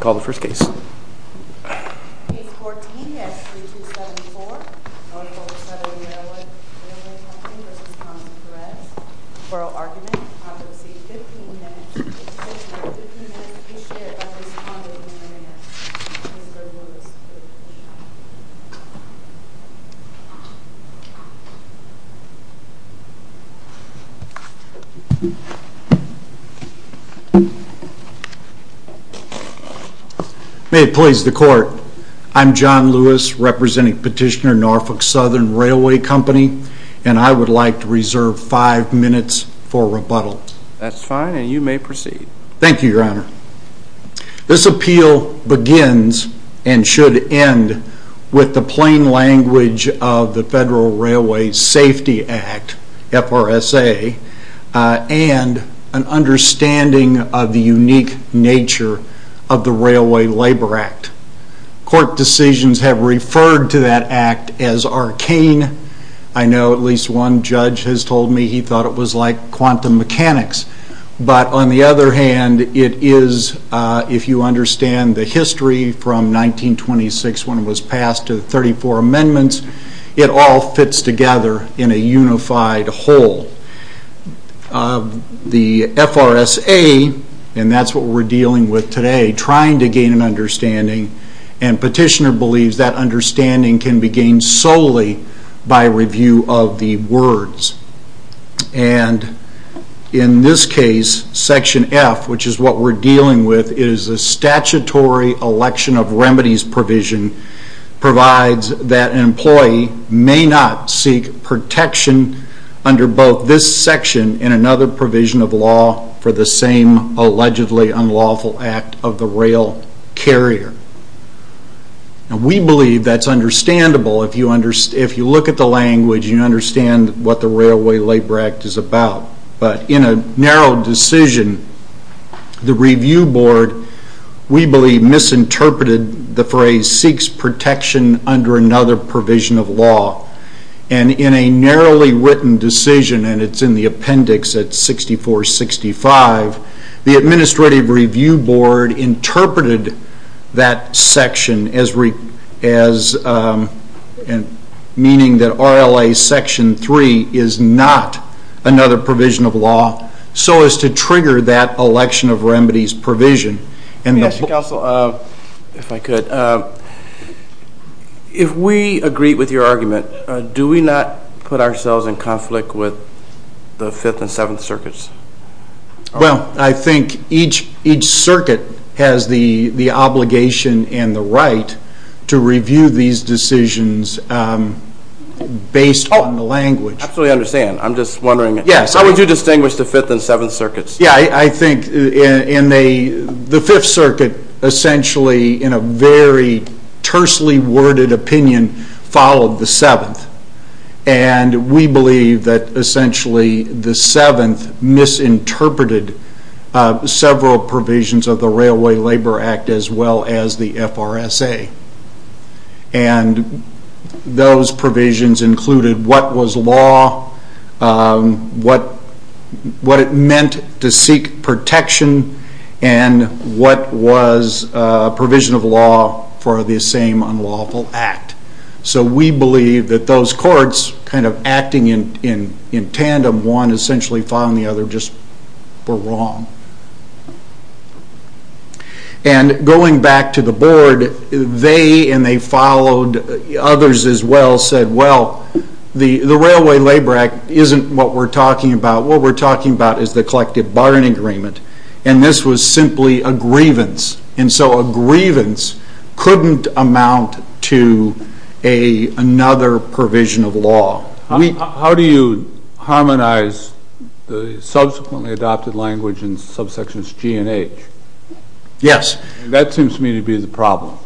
Call the first case. Case 14 S. 3274. Norfolk Southern Railway Co v. Thomas Perez. Oral argument. Convicts seek 15 minutes. 15 minutes each year. If a convict is a mayor, he is a good lawyer. May it please the court. I'm John Lewis, representing petitioner Norfolk Southern Railway Company, and I would like to reserve five minutes for rebuttal. That's fine, and you may proceed. Thank you, Your Honor. This appeal begins and should end with the plain language of the Federal Railway Safety Act, FRSA, and an understanding of the unique nature of the Railway Labor Act. Court decisions have referred to that act as arcane. I know at least one judge has told me he thought it was like quantum mechanics. But, on the other hand, it is, if you understand the history from 1926 when it was passed to the 34 amendments, it all fits together in a unified whole. The FRSA, and that's what we're dealing with today, trying to gain an understanding, and petitioner believes that understanding can be gained solely by review of the words. And, in this case, Section F, which is what we're dealing with, is a statutory election of remedies provision provides that an employee may not seek protection under both this section and another provision of law for the same allegedly unlawful act of the rail carrier. Now, we believe that's understandable. If you look at the language, you understand what the Railway Labor Act is about. But, in a narrow decision, the review board, we believe, misinterpreted the phrase seeks protection under another provision of law. And, in a narrowly written decision, and it's in the appendix at 6465, the Administrative Review Board interpreted that section as meaning that RLA Section 3 is not another provision of law so as to trigger that election of remedies provision. And the... Mr. Counsel, if I could, if we agree with your argument, do we not put ourselves in conflict with the Fifth and Seventh Circuits? Well, I think each circuit has the obligation and the right to review these decisions based on the language. I absolutely understand. I'm just wondering... Yes, how would you distinguish the Fifth and Seventh Circuits? Yeah, I think in the Fifth Circuit, essentially, in a very tersely worded opinion, followed the Seventh. And we believe that, essentially, the Seventh misinterpreted several provisions of the Railway Labor Act as well as the FRSA. And those provisions included what was law, what it meant to seek protection, and what was provision of law for the same unlawful act. So we believe that those courts, kind of acting in tandem, one essentially following the other, just were wrong. And going back to the Board, they, and they followed others as well, said, well, the Railway Labor Act isn't what we're talking about. What we're talking about is the collective bargaining agreement. And this was simply a grievance. And so a grievance couldn't amount to another provision of law. How do you harmonize the subsequently adopted language in subsections G and H? Yes. That seems to me to be the problem.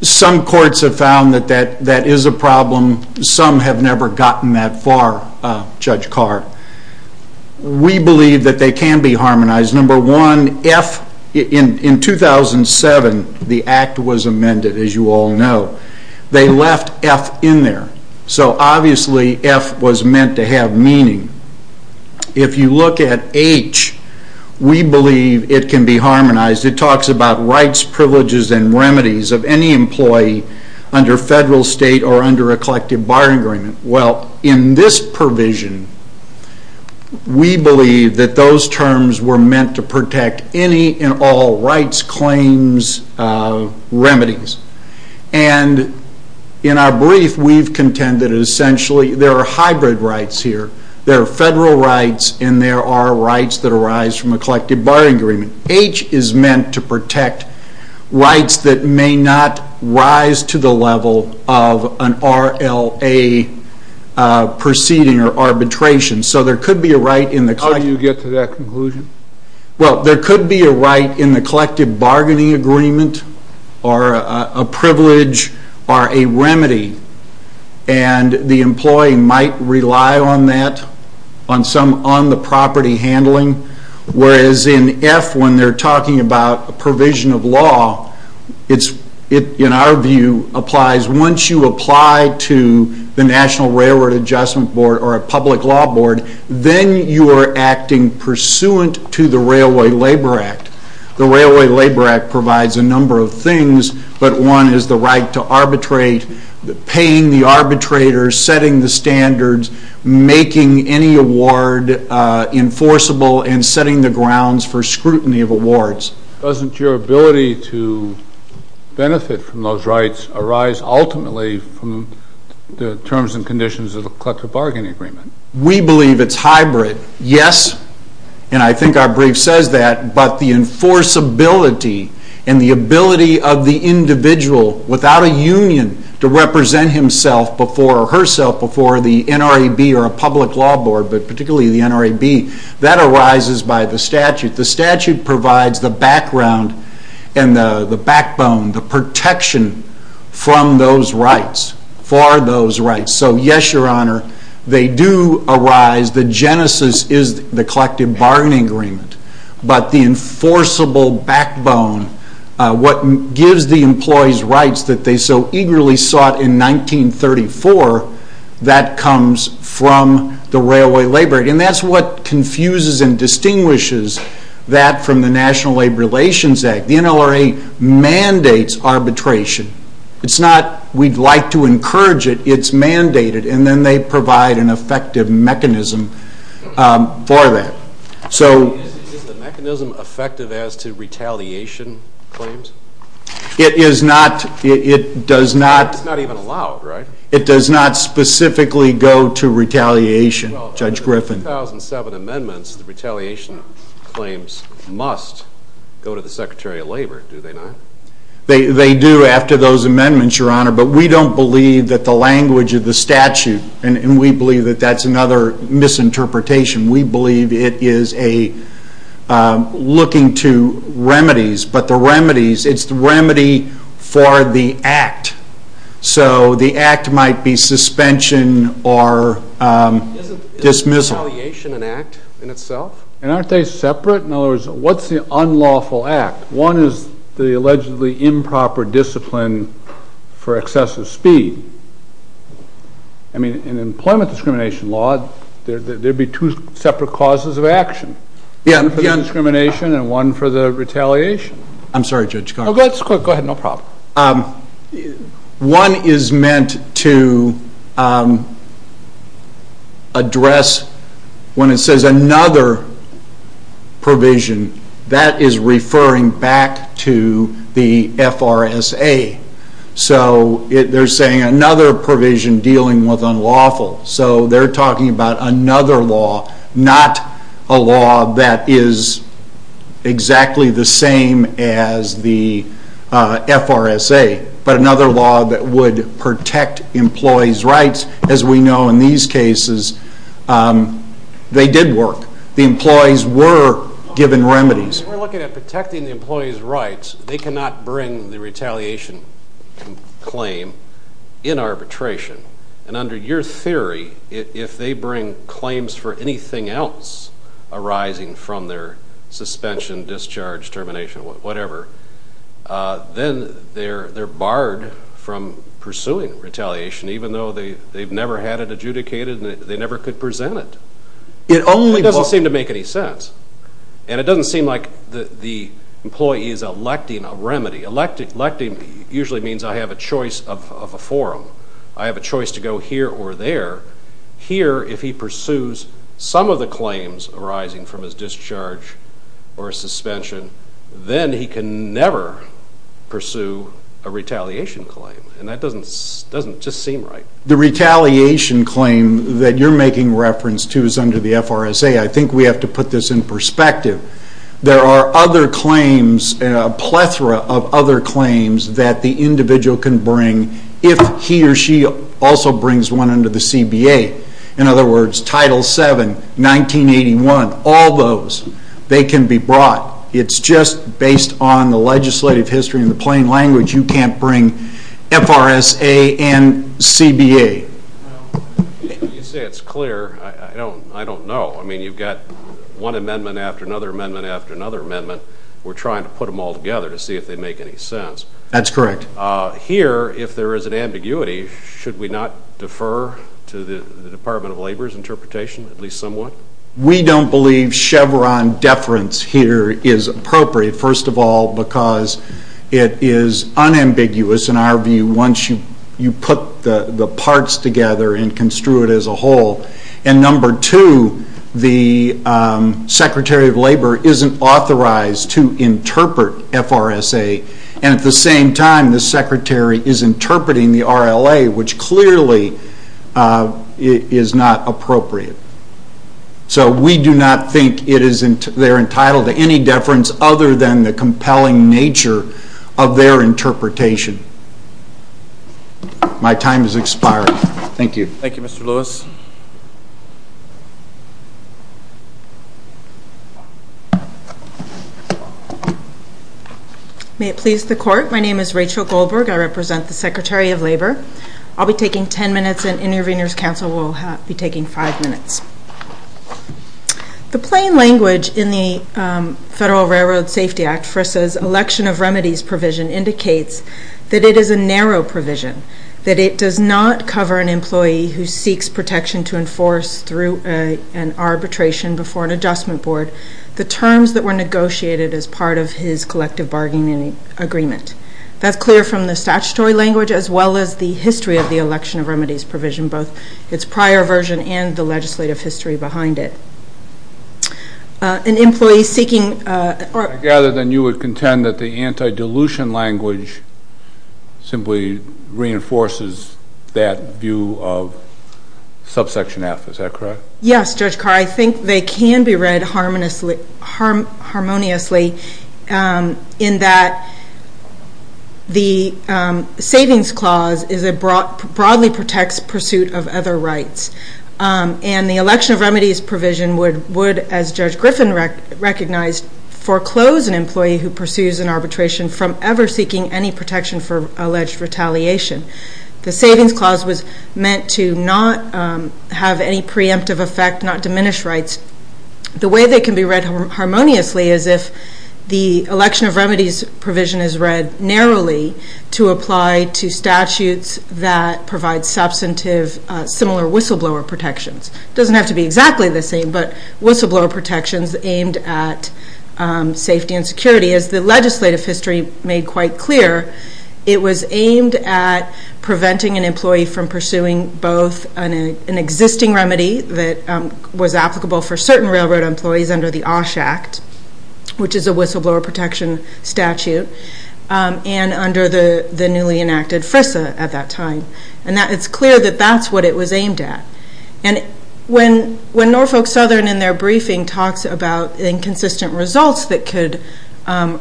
Some courts have found that that is a problem. Some have never gotten that far, Judge Carr. We believe that they can be harmonized. Number one, F, in 2007, the Act was amended, as you all know. They left F in there. So, obviously, F was meant to have meaning. If you look at H, we believe it can be harmonized. It talks about rights, privileges, and remedies of any employee under federal, state, or under a collective bargaining agreement. Well, in this provision, we believe that those terms were meant to protect any and all rights, claims, remedies. And in our brief, we've contended essentially there are hybrid rights here. There are federal rights and there are rights that arise from a collective bargaining agreement. H is meant to protect rights that may not rise to the level of an RLA proceeding or arbitration. How do you get to that conclusion? Well, there could be a right in the collective bargaining agreement or a privilege or a remedy. And the employee might rely on that, on the property handling. Whereas in F, when they're talking about a provision of law, in our view, once you apply to the National Railroad Adjustment Board or a public law board, then you are acting pursuant to the Railway Labor Act. The Railway Labor Act provides a number of things, but one is the right to arbitrate, paying the arbitrators, setting the standards, making any award enforceable, and setting the grounds for scrutiny of awards. Doesn't your ability to benefit from those rights arise ultimately from the terms and conditions of the collective bargaining agreement? We believe it's hybrid, yes. And I think our brief says that. But the enforceability and the ability of the individual, without a union, to represent himself or herself before the NRAB or a public law board, but particularly the NRAB, that arises by the statute. The statute provides the background and the backbone, the protection from those rights, for those rights. So yes, Your Honor, they do arise. The genesis is the collective bargaining agreement. But the enforceable backbone, what gives the employees rights that they so eagerly sought in 1934, that comes from the Railway Labor Act. And that's what confuses and distinguishes that from the National Labor Relations Act. The NLRA mandates arbitration. It's not, we'd like to encourage it, it's mandated. And then they provide an effective mechanism for that. Is the mechanism effective as to retaliation claims? It is not. It does not. It's not even allowed, right? It does not specifically go to retaliation, Judge Griffin. Well, the 2007 amendments, the retaliation claims must go to the Secretary of Labor, do they not? They do after those amendments, Your Honor. But we don't believe that the language of the statute, and we believe that that's another misinterpretation. We believe it is a looking to remedies. But the remedies, it's the remedy for the act. So the act might be suspension or dismissal. Isn't retaliation an act in itself? And aren't they separate? In other words, what's the unlawful act? One is the allegedly improper discipline for excessive speed. I mean, in employment discrimination law, there'd be two separate causes of action. One for the discrimination and one for the retaliation. I'm sorry, Judge Garza. Go ahead, no problem. One is meant to address, when it says another provision, that is referring back to the FRSA. So they're saying another provision dealing with unlawful. So they're talking about another law, not a law that is exactly the same as the FRSA, but another law that would protect employees' rights. As we know in these cases, they did work. The employees were given remedies. We're looking at protecting the employees' rights. They cannot bring the retaliation claim in arbitration. And under your theory, if they bring claims for anything else arising from their suspension, discharge, termination, whatever, then they're barred from pursuing retaliation, even though they've never had it adjudicated and they never could present it. It doesn't seem to make any sense. And it doesn't seem like the employee is electing a remedy. Electing usually means I have a choice of a forum. I have a choice to go here or there. Here, if he pursues some of the claims arising from his discharge or suspension, then he can never pursue a retaliation claim. And that doesn't just seem right. The retaliation claim that you're making reference to is under the FRSA. I think we have to put this in perspective. There are other claims, a plethora of other claims, that the individual can bring if he or she also brings one under the CBA. In other words, Title VII, 1981, all those, they can be brought. It's just based on the legislative history and the plain language. You can't bring FRSA and CBA. You say it's clear. I don't know. I mean, you've got one amendment after another amendment after another amendment. We're trying to put them all together to see if they make any sense. That's correct. Here, if there is an ambiguity, should we not defer to the Department of Labor's interpretation, at least somewhat? We don't believe Chevron deference here is appropriate, first of all, because it is unambiguous in our view once you put the parts together and construe it as a whole. And number two, the Secretary of Labor isn't authorized to interpret FRSA. And at the same time, the Secretary is interpreting the RLA, which clearly is not appropriate. So we do not think they're entitled to any deference other than the compelling nature of their interpretation. My time has expired. Thank you. Thank you, Mr. Lewis. May it please the Court. My name is Rachel Goldberg. I represent the Secretary of Labor. I'll be taking ten minutes, and Intervenors Council will be taking five minutes. The plain language in the Federal Railroad Safety Act, FRSA's Election of Remedies provision, indicates that it is a narrow provision, that it does not cover an employee who seeks protection to enforce, through an arbitration before an adjustment board, the terms that were negotiated as part of his collective bargaining agreement. That's clear from the statutory language, as well as the history of the Election of Remedies provision, both its prior version and the legislative history behind it. An employee seeking or... I gather then you would contend that the anti-dilution language simply reinforces that view of subsection F. Is that correct? Yes, Judge Carr. I think they can be read harmoniously, in that the Savings Clause broadly protects pursuit of other rights. And the Election of Remedies provision would, as Judge Griffin recognized, foreclose an employee who pursues an arbitration from ever seeking any protection for alleged retaliation. The Savings Clause was meant to not have any preemptive effect, not diminish rights. The way they can be read harmoniously is if the Election of Remedies provision is read narrowly to apply to statutes that provide substantive, similar whistleblower protections. It doesn't have to be exactly the same, but whistleblower protections aimed at safety and security. As the legislative history made quite clear, it was aimed at preventing an employee from pursuing both an existing remedy that was applicable for certain railroad employees under the OSH Act, which is a whistleblower protection statute, and under the newly enacted FRISA at that time. And it's clear that that's what it was aimed at. And when Norfolk Southern, in their briefing, talks about inconsistent results that could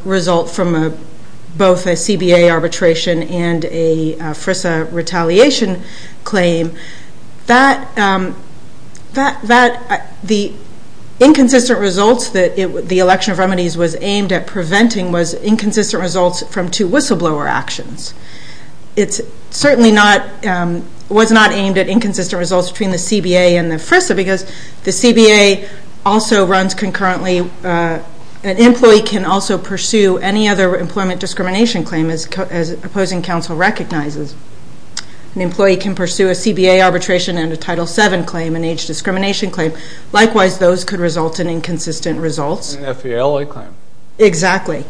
result from both a CBA arbitration and a FRISA retaliation claim, the inconsistent results that the Election of Remedies was aimed at preventing was inconsistent results from two whistleblower actions. It certainly was not aimed at inconsistent results between the CBA and the FRISA, because the CBA also runs concurrently. An employee can also pursue any other employment discrimination claim as opposing counsel recognizes. An employee can pursue a CBA arbitration and a Title VII claim, an age discrimination claim. Likewise, those could result in inconsistent results. An FVLA claim. Exactly.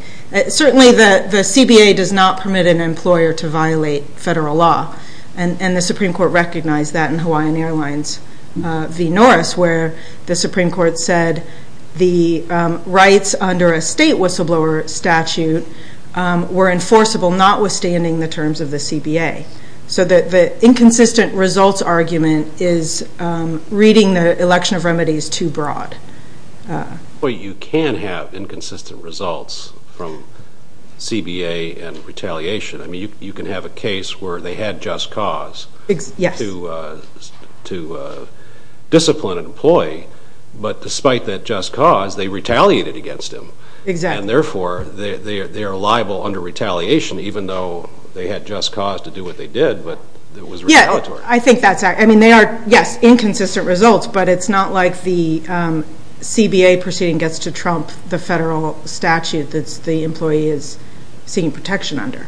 Certainly the CBA does not permit an employer to violate federal law, and the Supreme Court recognized that in Hawaiian Airlines v. Norris, where the Supreme Court said the rights under a state whistleblower statute were enforceable notwithstanding the terms of the CBA. So the inconsistent results argument is reading the Election of Remedies too broad. But you can have inconsistent results from CBA and retaliation. I mean, you can have a case where they had just cause to discipline an employee, but despite that just cause, they retaliated against him. And therefore, they are liable under retaliation, even though they had just cause to do what they did, but it was retaliatory. Yes, I think that's right. I mean, they are, yes, inconsistent results, but it's not like the CBA proceeding gets to trump the federal statute that the employee is seeking protection under.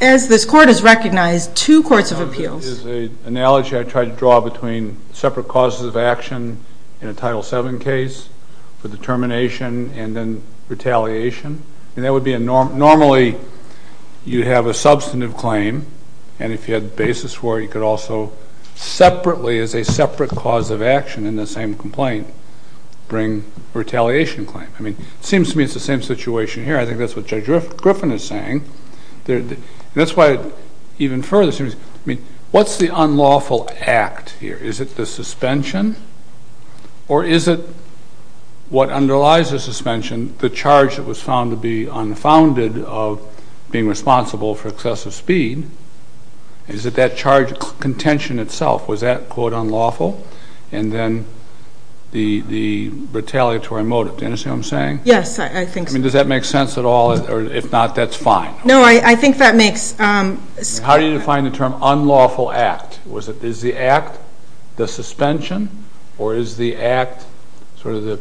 As this Court has recognized, two courts of appeals. There's an analogy I try to draw between separate causes of action in a Title VII case for determination and then retaliation. Normally, you have a substantive claim, and if you had basis for it, you could also separately, as a separate cause of action in the same complaint, bring a retaliation claim. I mean, it seems to me it's the same situation here. I think that's what Judge Griffin is saying. That's why, even further, what's the unlawful act here? Is it the suspension? Or is it what underlies the suspension, the charge that was found to be unfounded of being responsible for excessive speed? Is it that charge contention itself? Was that, quote, unlawful? And then the retaliatory motive. Do you understand what I'm saying? Yes, I think so. I mean, does that make sense at all? Or if not, that's fine. No, I think that makes sense. How do you define the term unlawful act? Is the act the suspension? Or is the act sort of the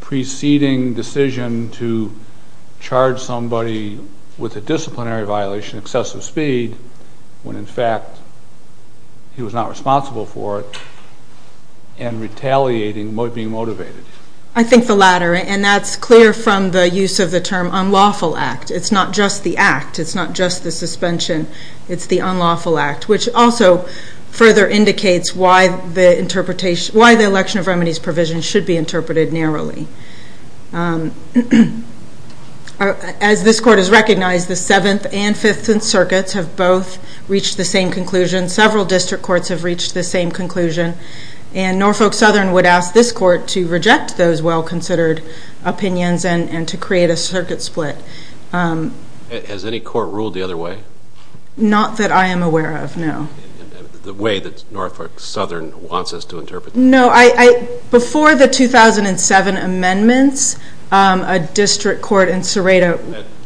preceding decision to charge somebody with a disciplinary violation, excessive speed, when in fact he was not responsible for it, and retaliating, being motivated? I think the latter. And that's clear from the use of the term unlawful act. It's not just the act. It's not just the suspension. It's the unlawful act, which also further indicates why the election of remedies provision should be interpreted narrowly. As this court has recognized, the Seventh and Fifth Circuits have both reached the same conclusion. Several district courts have reached the same conclusion. And Norfolk Southern would ask this court to reject those well-considered opinions and to create a circuit split. Has any court ruled the other way? Not that I am aware of, no. The way that Norfolk Southern wants us to interpret them? No. Before the 2007 amendments, a district court in Serato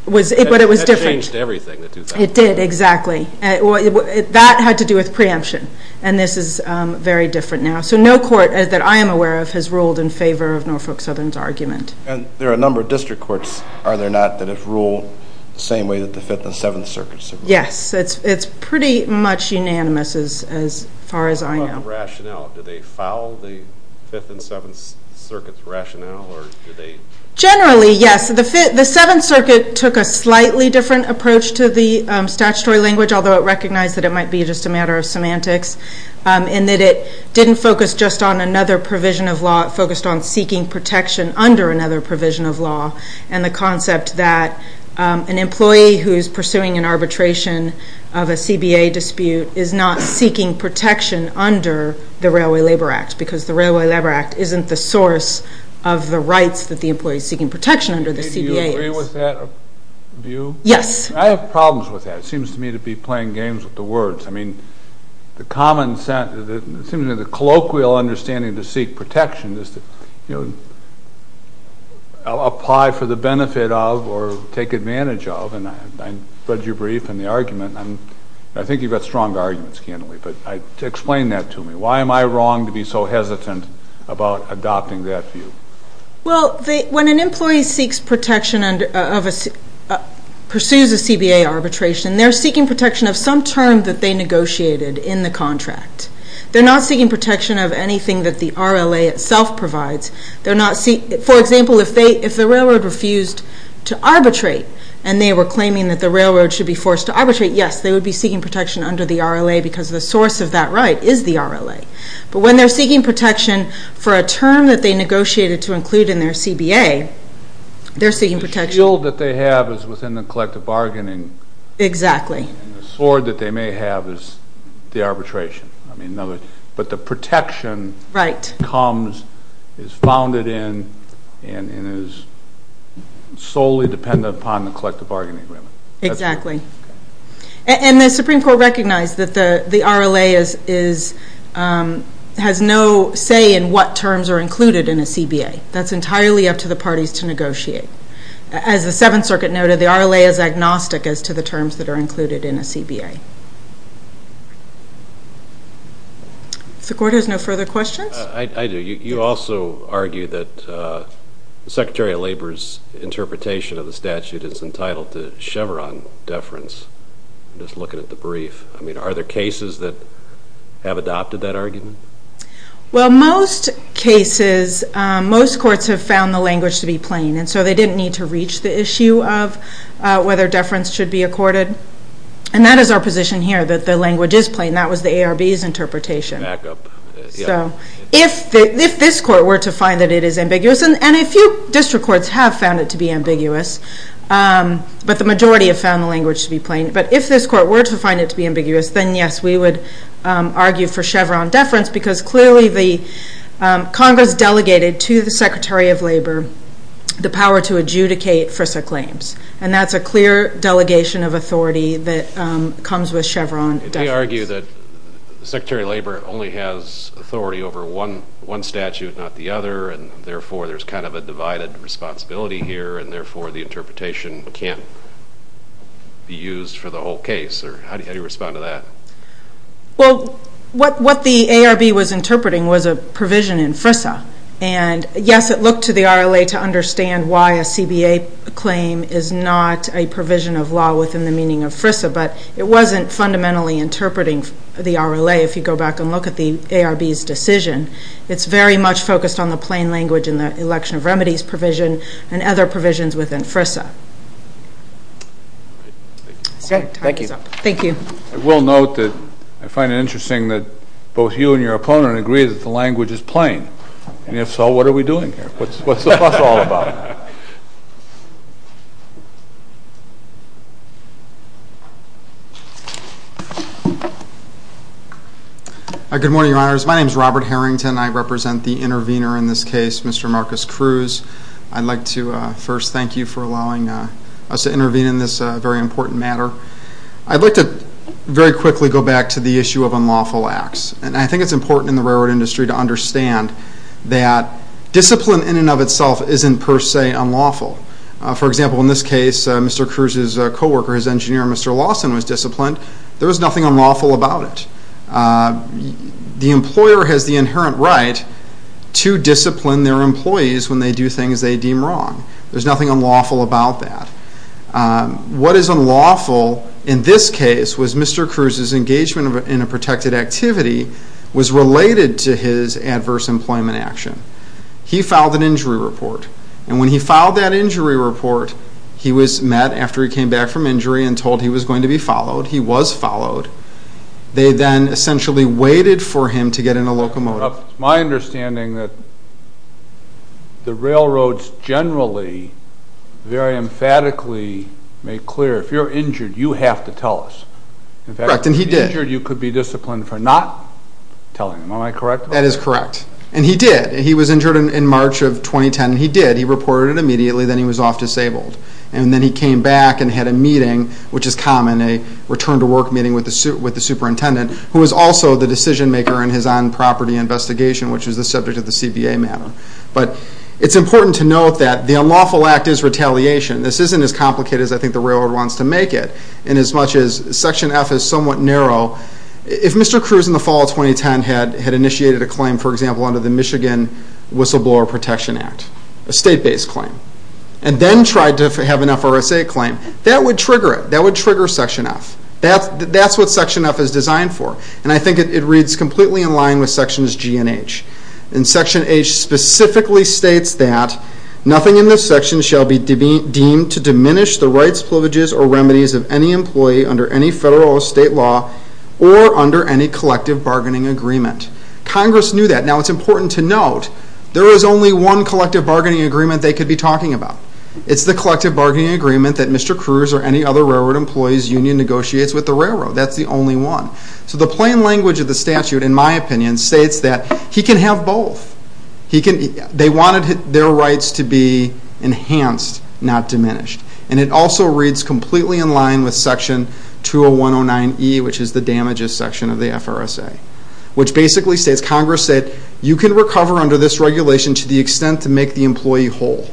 was... But it was different. That changed everything in 2007. It did, exactly. That had to do with preemption. And this is very different now. So no court that I am aware of has ruled in favor of Norfolk Southern's argument. And there are a number of district courts, are there not, that have ruled the same way that the Fifth and Seventh Circuits have ruled? Yes. It's pretty much unanimous as far as I know. What about rationale? Do they foul the Fifth and Seventh Circuits' rationale? Generally, yes. The Seventh Circuit took a slightly different approach to the statutory language, although it recognized that it might be just a matter of semantics, in that it didn't focus just on another provision of law. It focused on seeking protection under another provision of law and the concept that an employee who is pursuing an arbitration of a CBA dispute is not seeking protection under the Railway Labor Act because the Railway Labor Act isn't the source of the rights that the employee is seeking protection under the CBA. Do you agree with that view? Yes. I have problems with that. It seems to me to be playing games with the words. I mean, the common sense... It seems to me the colloquial understanding to seek protection is to, you know, apply for the benefit of or take advantage of, and I read your brief and the argument, and I think you've got strong arguments, Candidly, but explain that to me. Why am I wrong to be so hesitant about adopting that view? Well, when an employee seeks protection and pursues a CBA arbitration, they're seeking protection of some term that they negotiated in the contract. They're not seeking protection of anything that the RLA itself provides. For example, if the railroad refused to arbitrate and they were claiming that the railroad should be forced to arbitrate, yes, they would be seeking protection under the RLA because the source of that right is the RLA. But when they're seeking protection for a term that they negotiated to include in their CBA, they're seeking protection... The shield that they have is within the collective bargaining. Exactly. And the sword that they may have is the arbitration. But the protection comes, is founded in, and is solely dependent upon the collective bargaining agreement. Exactly. And the Supreme Court recognized that the RLA has no say in what terms are included in a CBA. That's entirely up to the parties to negotiate. As the Seventh Circuit noted, the RLA is agnostic as to the terms that are included in a CBA. If the Court has no further questions... I do. You also argue that the Secretary of Labor's interpretation of the statute is entitled to Chevron deference, just looking at the brief. I mean, are there cases that have adopted that argument? Well, most cases, most courts have found the language to be plain, and so they didn't need to reach the issue of whether deference should be accorded. And that is our position here, that the language is plain. That was the ARB's interpretation. Back up. So if this Court were to find that it is ambiguous, and a few district courts have found it to be ambiguous, but the majority have found the language to be plain. But if this Court were to find it to be ambiguous, then yes, we would argue for Chevron deference because clearly the Congress delegated to the Secretary of Labor the power to adjudicate FRISA claims. And that's a clear delegation of authority that comes with Chevron deference. You argue that the Secretary of Labor only has authority over one statute, not the other, and therefore there's kind of a divided responsibility here, and therefore the interpretation can't be used for the whole case. How do you respond to that? Well, what the ARB was interpreting was a provision in FRISA. And yes, it looked to the RLA to understand why a CBA claim is not a provision of law within the meaning of FRISA, but it wasn't fundamentally interpreting the RLA if you go back and look at the ARB's decision. It's very much focused on the plain language and the election of remedies provision and other provisions within FRISA. Thank you. I will note that I find it interesting that both you and your opponent agree that the language is plain. And if so, what are we doing here? What's the fuss all about? Good morning, Your Honors. My name is Robert Harrington. I represent the intervener in this case, Mr. Marcus Cruz. I'd like to first thank you for allowing us to intervene in this very important matter. I'd like to very quickly go back to the issue of unlawful acts. And I think it's important in the railroad industry to understand that discipline in and of itself isn't per se unlawful. For example, in this case, Mr. Cruz's co-worker, his engineer, Mr. Lawson, was disciplined. There was nothing unlawful about it. The employer has the inherent right to discipline their employees when they do things they deem wrong. There's nothing unlawful about that. What is unlawful in this case was Mr. Cruz's engagement in a protected activity was related to his adverse employment action. He filed an injury report. And when he filed that injury report, he was met after he came back from injury and told he was going to be followed. He was followed. They then essentially waited for him to get in a locomotive. It's my understanding that the railroads generally very emphatically make clear, if you're injured, you have to tell us. Correct, and he did. If you're injured, you could be disciplined for not telling them. Am I correct? That is correct. And he did. He was injured in March of 2010, and he did. He reported it immediately. Then he was off disabled. And then he came back and had a meeting, which is common, a return-to-work meeting with the superintendent, who was also the decision-maker in his on-property investigation, which was the subject of the CBA matter. But it's important to note that the unlawful act is retaliation. This isn't as complicated as I think the railroad wants to make it. And as much as Section F is somewhat narrow, if Mr. Cruz in the fall of 2010 had initiated a claim, for example, under the Michigan Whistleblower Protection Act, a state-based claim, and then tried to have an FRSA claim, that would trigger it. That would trigger Section F. That's what Section F is designed for. And I think it reads completely in line with Sections G and H. And Section H specifically states that, nothing in this section shall be deemed to diminish the rights, privileges, or remedies of any employee under any federal or state law or under any collective bargaining agreement. Congress knew that. Now, it's important to note, there is only one collective bargaining agreement they could be talking about. It's the collective bargaining agreement that Mr. Cruz or any other railroad employee's union negotiates with the railroad. That's the only one. So the plain language of the statute, in my opinion, states that he can have both. They wanted their rights to be enhanced, not diminished. And it also reads completely in line with Section 20109E, which is the damages section of the FRSA, which basically states, Congress said, you can recover under this regulation to the extent to make the employee whole.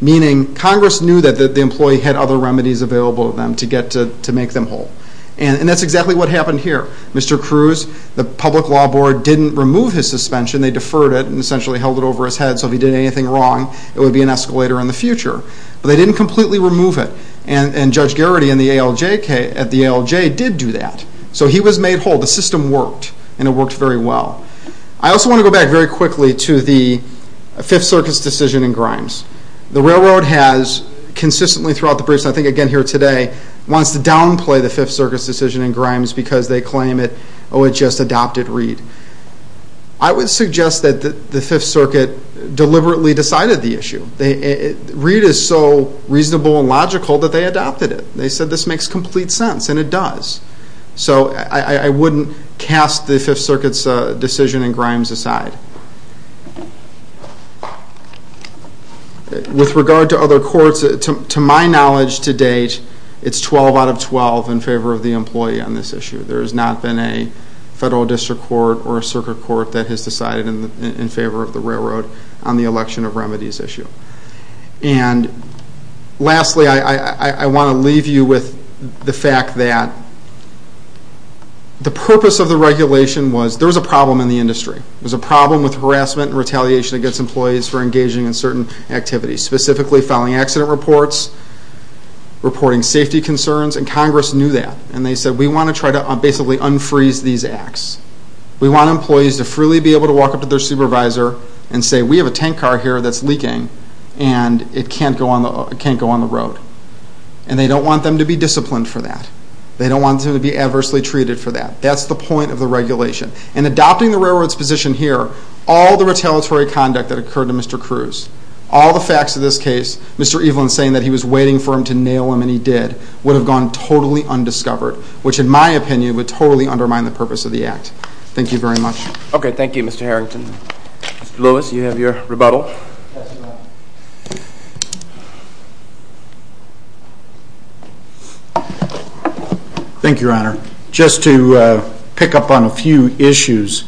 Meaning, Congress knew that the employee had other remedies available to them to get to make them whole. And that's exactly what happened here. Mr. Cruz, the Public Law Board didn't remove his suspension. They deferred it and essentially held it over his head. So if he did anything wrong, it would be an escalator in the future. But they didn't completely remove it. And Judge Garrity at the ALJ did do that. So he was made whole. The system worked, and it worked very well. I also want to go back very quickly to the Fifth Circus decision in Grimes. The railroad has consistently throughout the briefs, and I think again here today, wants to downplay the Fifth Circus decision in Grimes because they claim it just adopted Reed. I would suggest that the Fifth Circuit deliberately decided the issue. Reed is so reasonable and logical that they adopted it. They said this makes complete sense, and it does. So I wouldn't cast the Fifth Circuit's decision in Grimes aside. With regard to other courts, to my knowledge to date, it's 12 out of 12 in favor of the employee on this issue. There has not been a federal district court or a circuit court that has decided in favor of the railroad on the election of remedies issue. And lastly, I want to leave you with the fact that the purpose of the regulation was there was a problem in the industry. There was a problem with harassment and retaliation against employees for engaging in certain activities, specifically filing accident reports, reporting safety concerns, and Congress knew that. And they said, we want to try to basically unfreeze these acts. We want employees to freely be able to walk up to their supervisor and say, we have a tank car here that's leaking, and it can't go on the road. And they don't want them to be disciplined for that. They don't want them to be adversely treated for that. That's the point of the regulation. In adopting the railroad's position here, all the retaliatory conduct that occurred to Mr. Cruz, all the facts of this case, Mr. Evelyn saying that he was waiting for him to nail him, and he did, would have gone totally undiscovered, which in my opinion would totally undermine the purpose of the act. Thank you very much. Okay, thank you, Mr. Harrington. Mr. Lewis, you have your rebuttal. Thank you, Your Honor. Just to pick up on a few issues,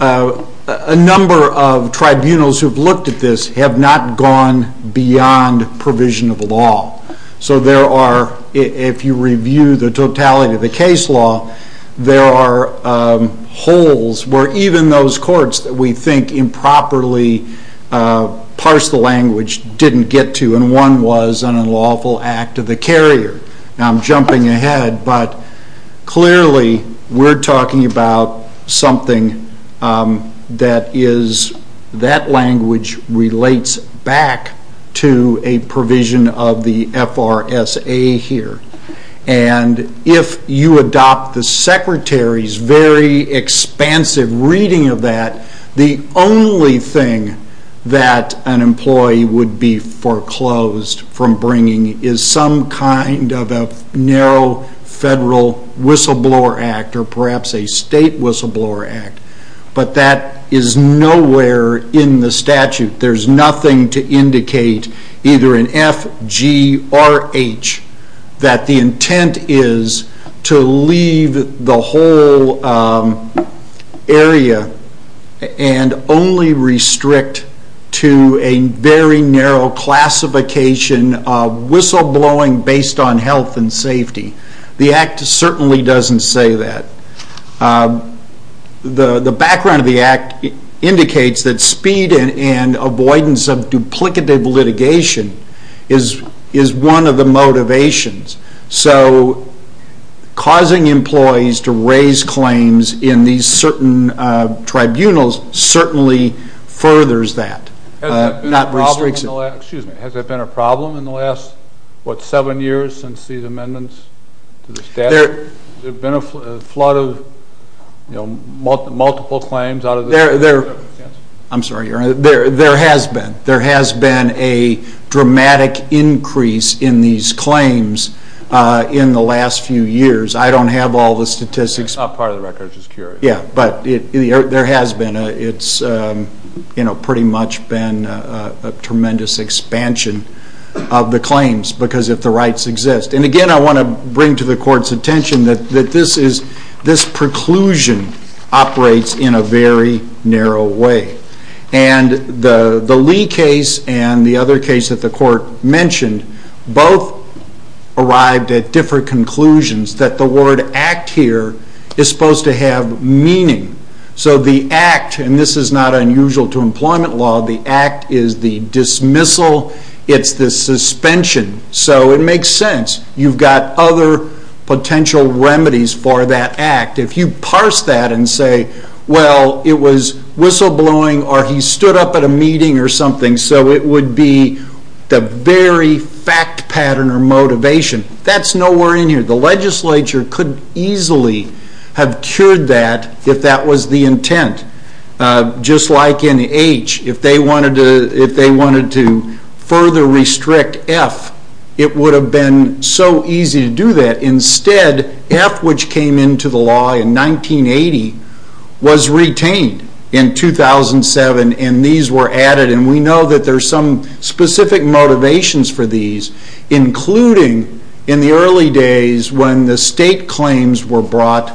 a number of tribunals who have looked at this have not gone beyond provision of law. So there are, if you review the totality of the case law, there are holes where even those courts that we think improperly parsed the language didn't get to, and one was an unlawful act of the carrier. Now I'm jumping ahead, but clearly we're talking about something that language relates back to a provision of the FRSA here. And if you adopt the Secretary's very expansive reading of that, the only thing that an employee would be foreclosed from bringing is some kind of a narrow federal whistleblower act or perhaps a state whistleblower act. But that is nowhere in the statute. There's nothing to indicate, either in F, G, or H, that the intent is to leave the whole area and only restrict to a very narrow classification of whistleblowing based on health and safety. The Act certainly doesn't say that. The background of the Act indicates that speed and avoidance of duplicative litigation is one of the motivations. So causing employees to raise claims in these certain tribunals certainly furthers that, not restricts it. Has there been a problem in the last, what, seven years since these amendments to the statute? Has there been a flood of multiple claims out of the statute? I'm sorry, there has been. There has been a dramatic increase in these claims in the last few years. I don't have all the statistics. That's not part of the record, I'm just curious. Yeah, but there has been. It's pretty much been a tremendous expansion of the claims because if the rights exist. And again, I want to bring to the Court's attention that this preclusion operates in a very narrow way. And the Lee case and the other case that the Court mentioned both arrived at different conclusions that the word Act here is supposed to have meaning. So the Act, and this is not unusual to employment law, the Act is the dismissal, it's the suspension. So it makes sense. You've got other potential remedies for that Act. If you parse that and say, well, it was whistleblowing or he stood up at a meeting or something, so it would be the very fact pattern or motivation. That's nowhere in here. The legislature could easily have cured that if that was the intent. Just like in H, if they wanted to further restrict F, it would have been so easy to do that. Instead, F, which came into the law in 1980, was retained in 2007 and these were added. And we know that there are some specific motivations for these, including in the early days when the state claims were brought,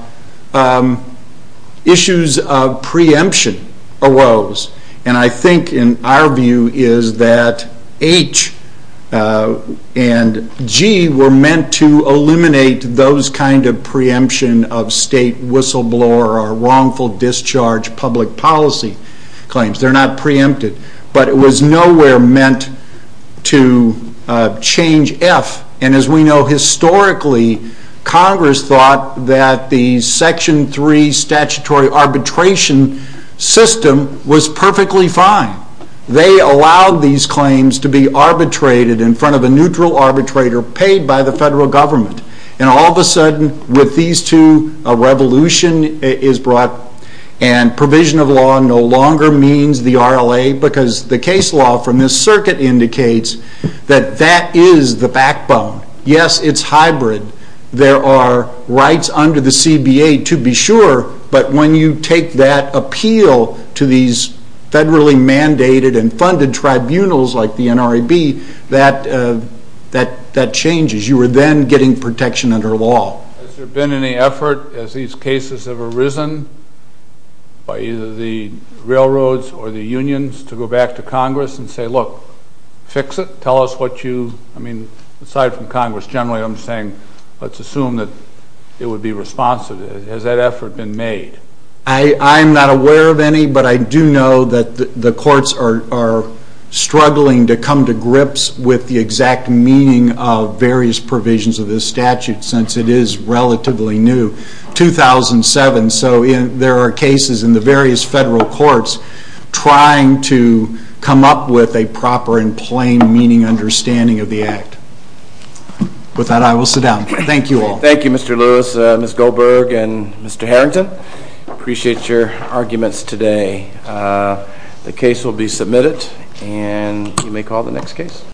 issues of preemption arose. And I think in our view is that H and G were meant to eliminate those kind of preemption of state whistleblower or wrongful discharge public policy claims. They're not preempted. But it was nowhere meant to change F. And as we know, historically, Congress thought that the Section 3 statutory arbitration system was perfectly fine. They allowed these claims to be arbitrated in front of a neutral arbitrator paid by the federal government. And all of a sudden, with these two, a revolution is brought and provision of law no longer means the RLA because the case law from this circuit indicates that that is the backbone. Yes, it's hybrid. There are rights under the CBA to be sure, but when you take that appeal to these federally mandated and funded tribunals like the NRAB, that changes. You are then getting protection under law. Has there been any effort as these cases have arisen by either the railroads or the unions to go back to Congress and say, look, fix it, tell us what you... I mean, aside from Congress, generally I'm saying let's assume that it would be responsive. Has that effort been made? I'm not aware of any, but I do know that the courts are struggling to come to grips with the exact meaning of various provisions of this statute since it is relatively new, 2007. So there are cases in the various federal courts trying to come up with a proper and plain meaning understanding of the Act. With that, I will sit down. Thank you all. Thank you, Mr. Lewis, Ms. Goldberg, and Mr. Harrington. Appreciate your arguments today. The case will be submitted, and you may call the next case.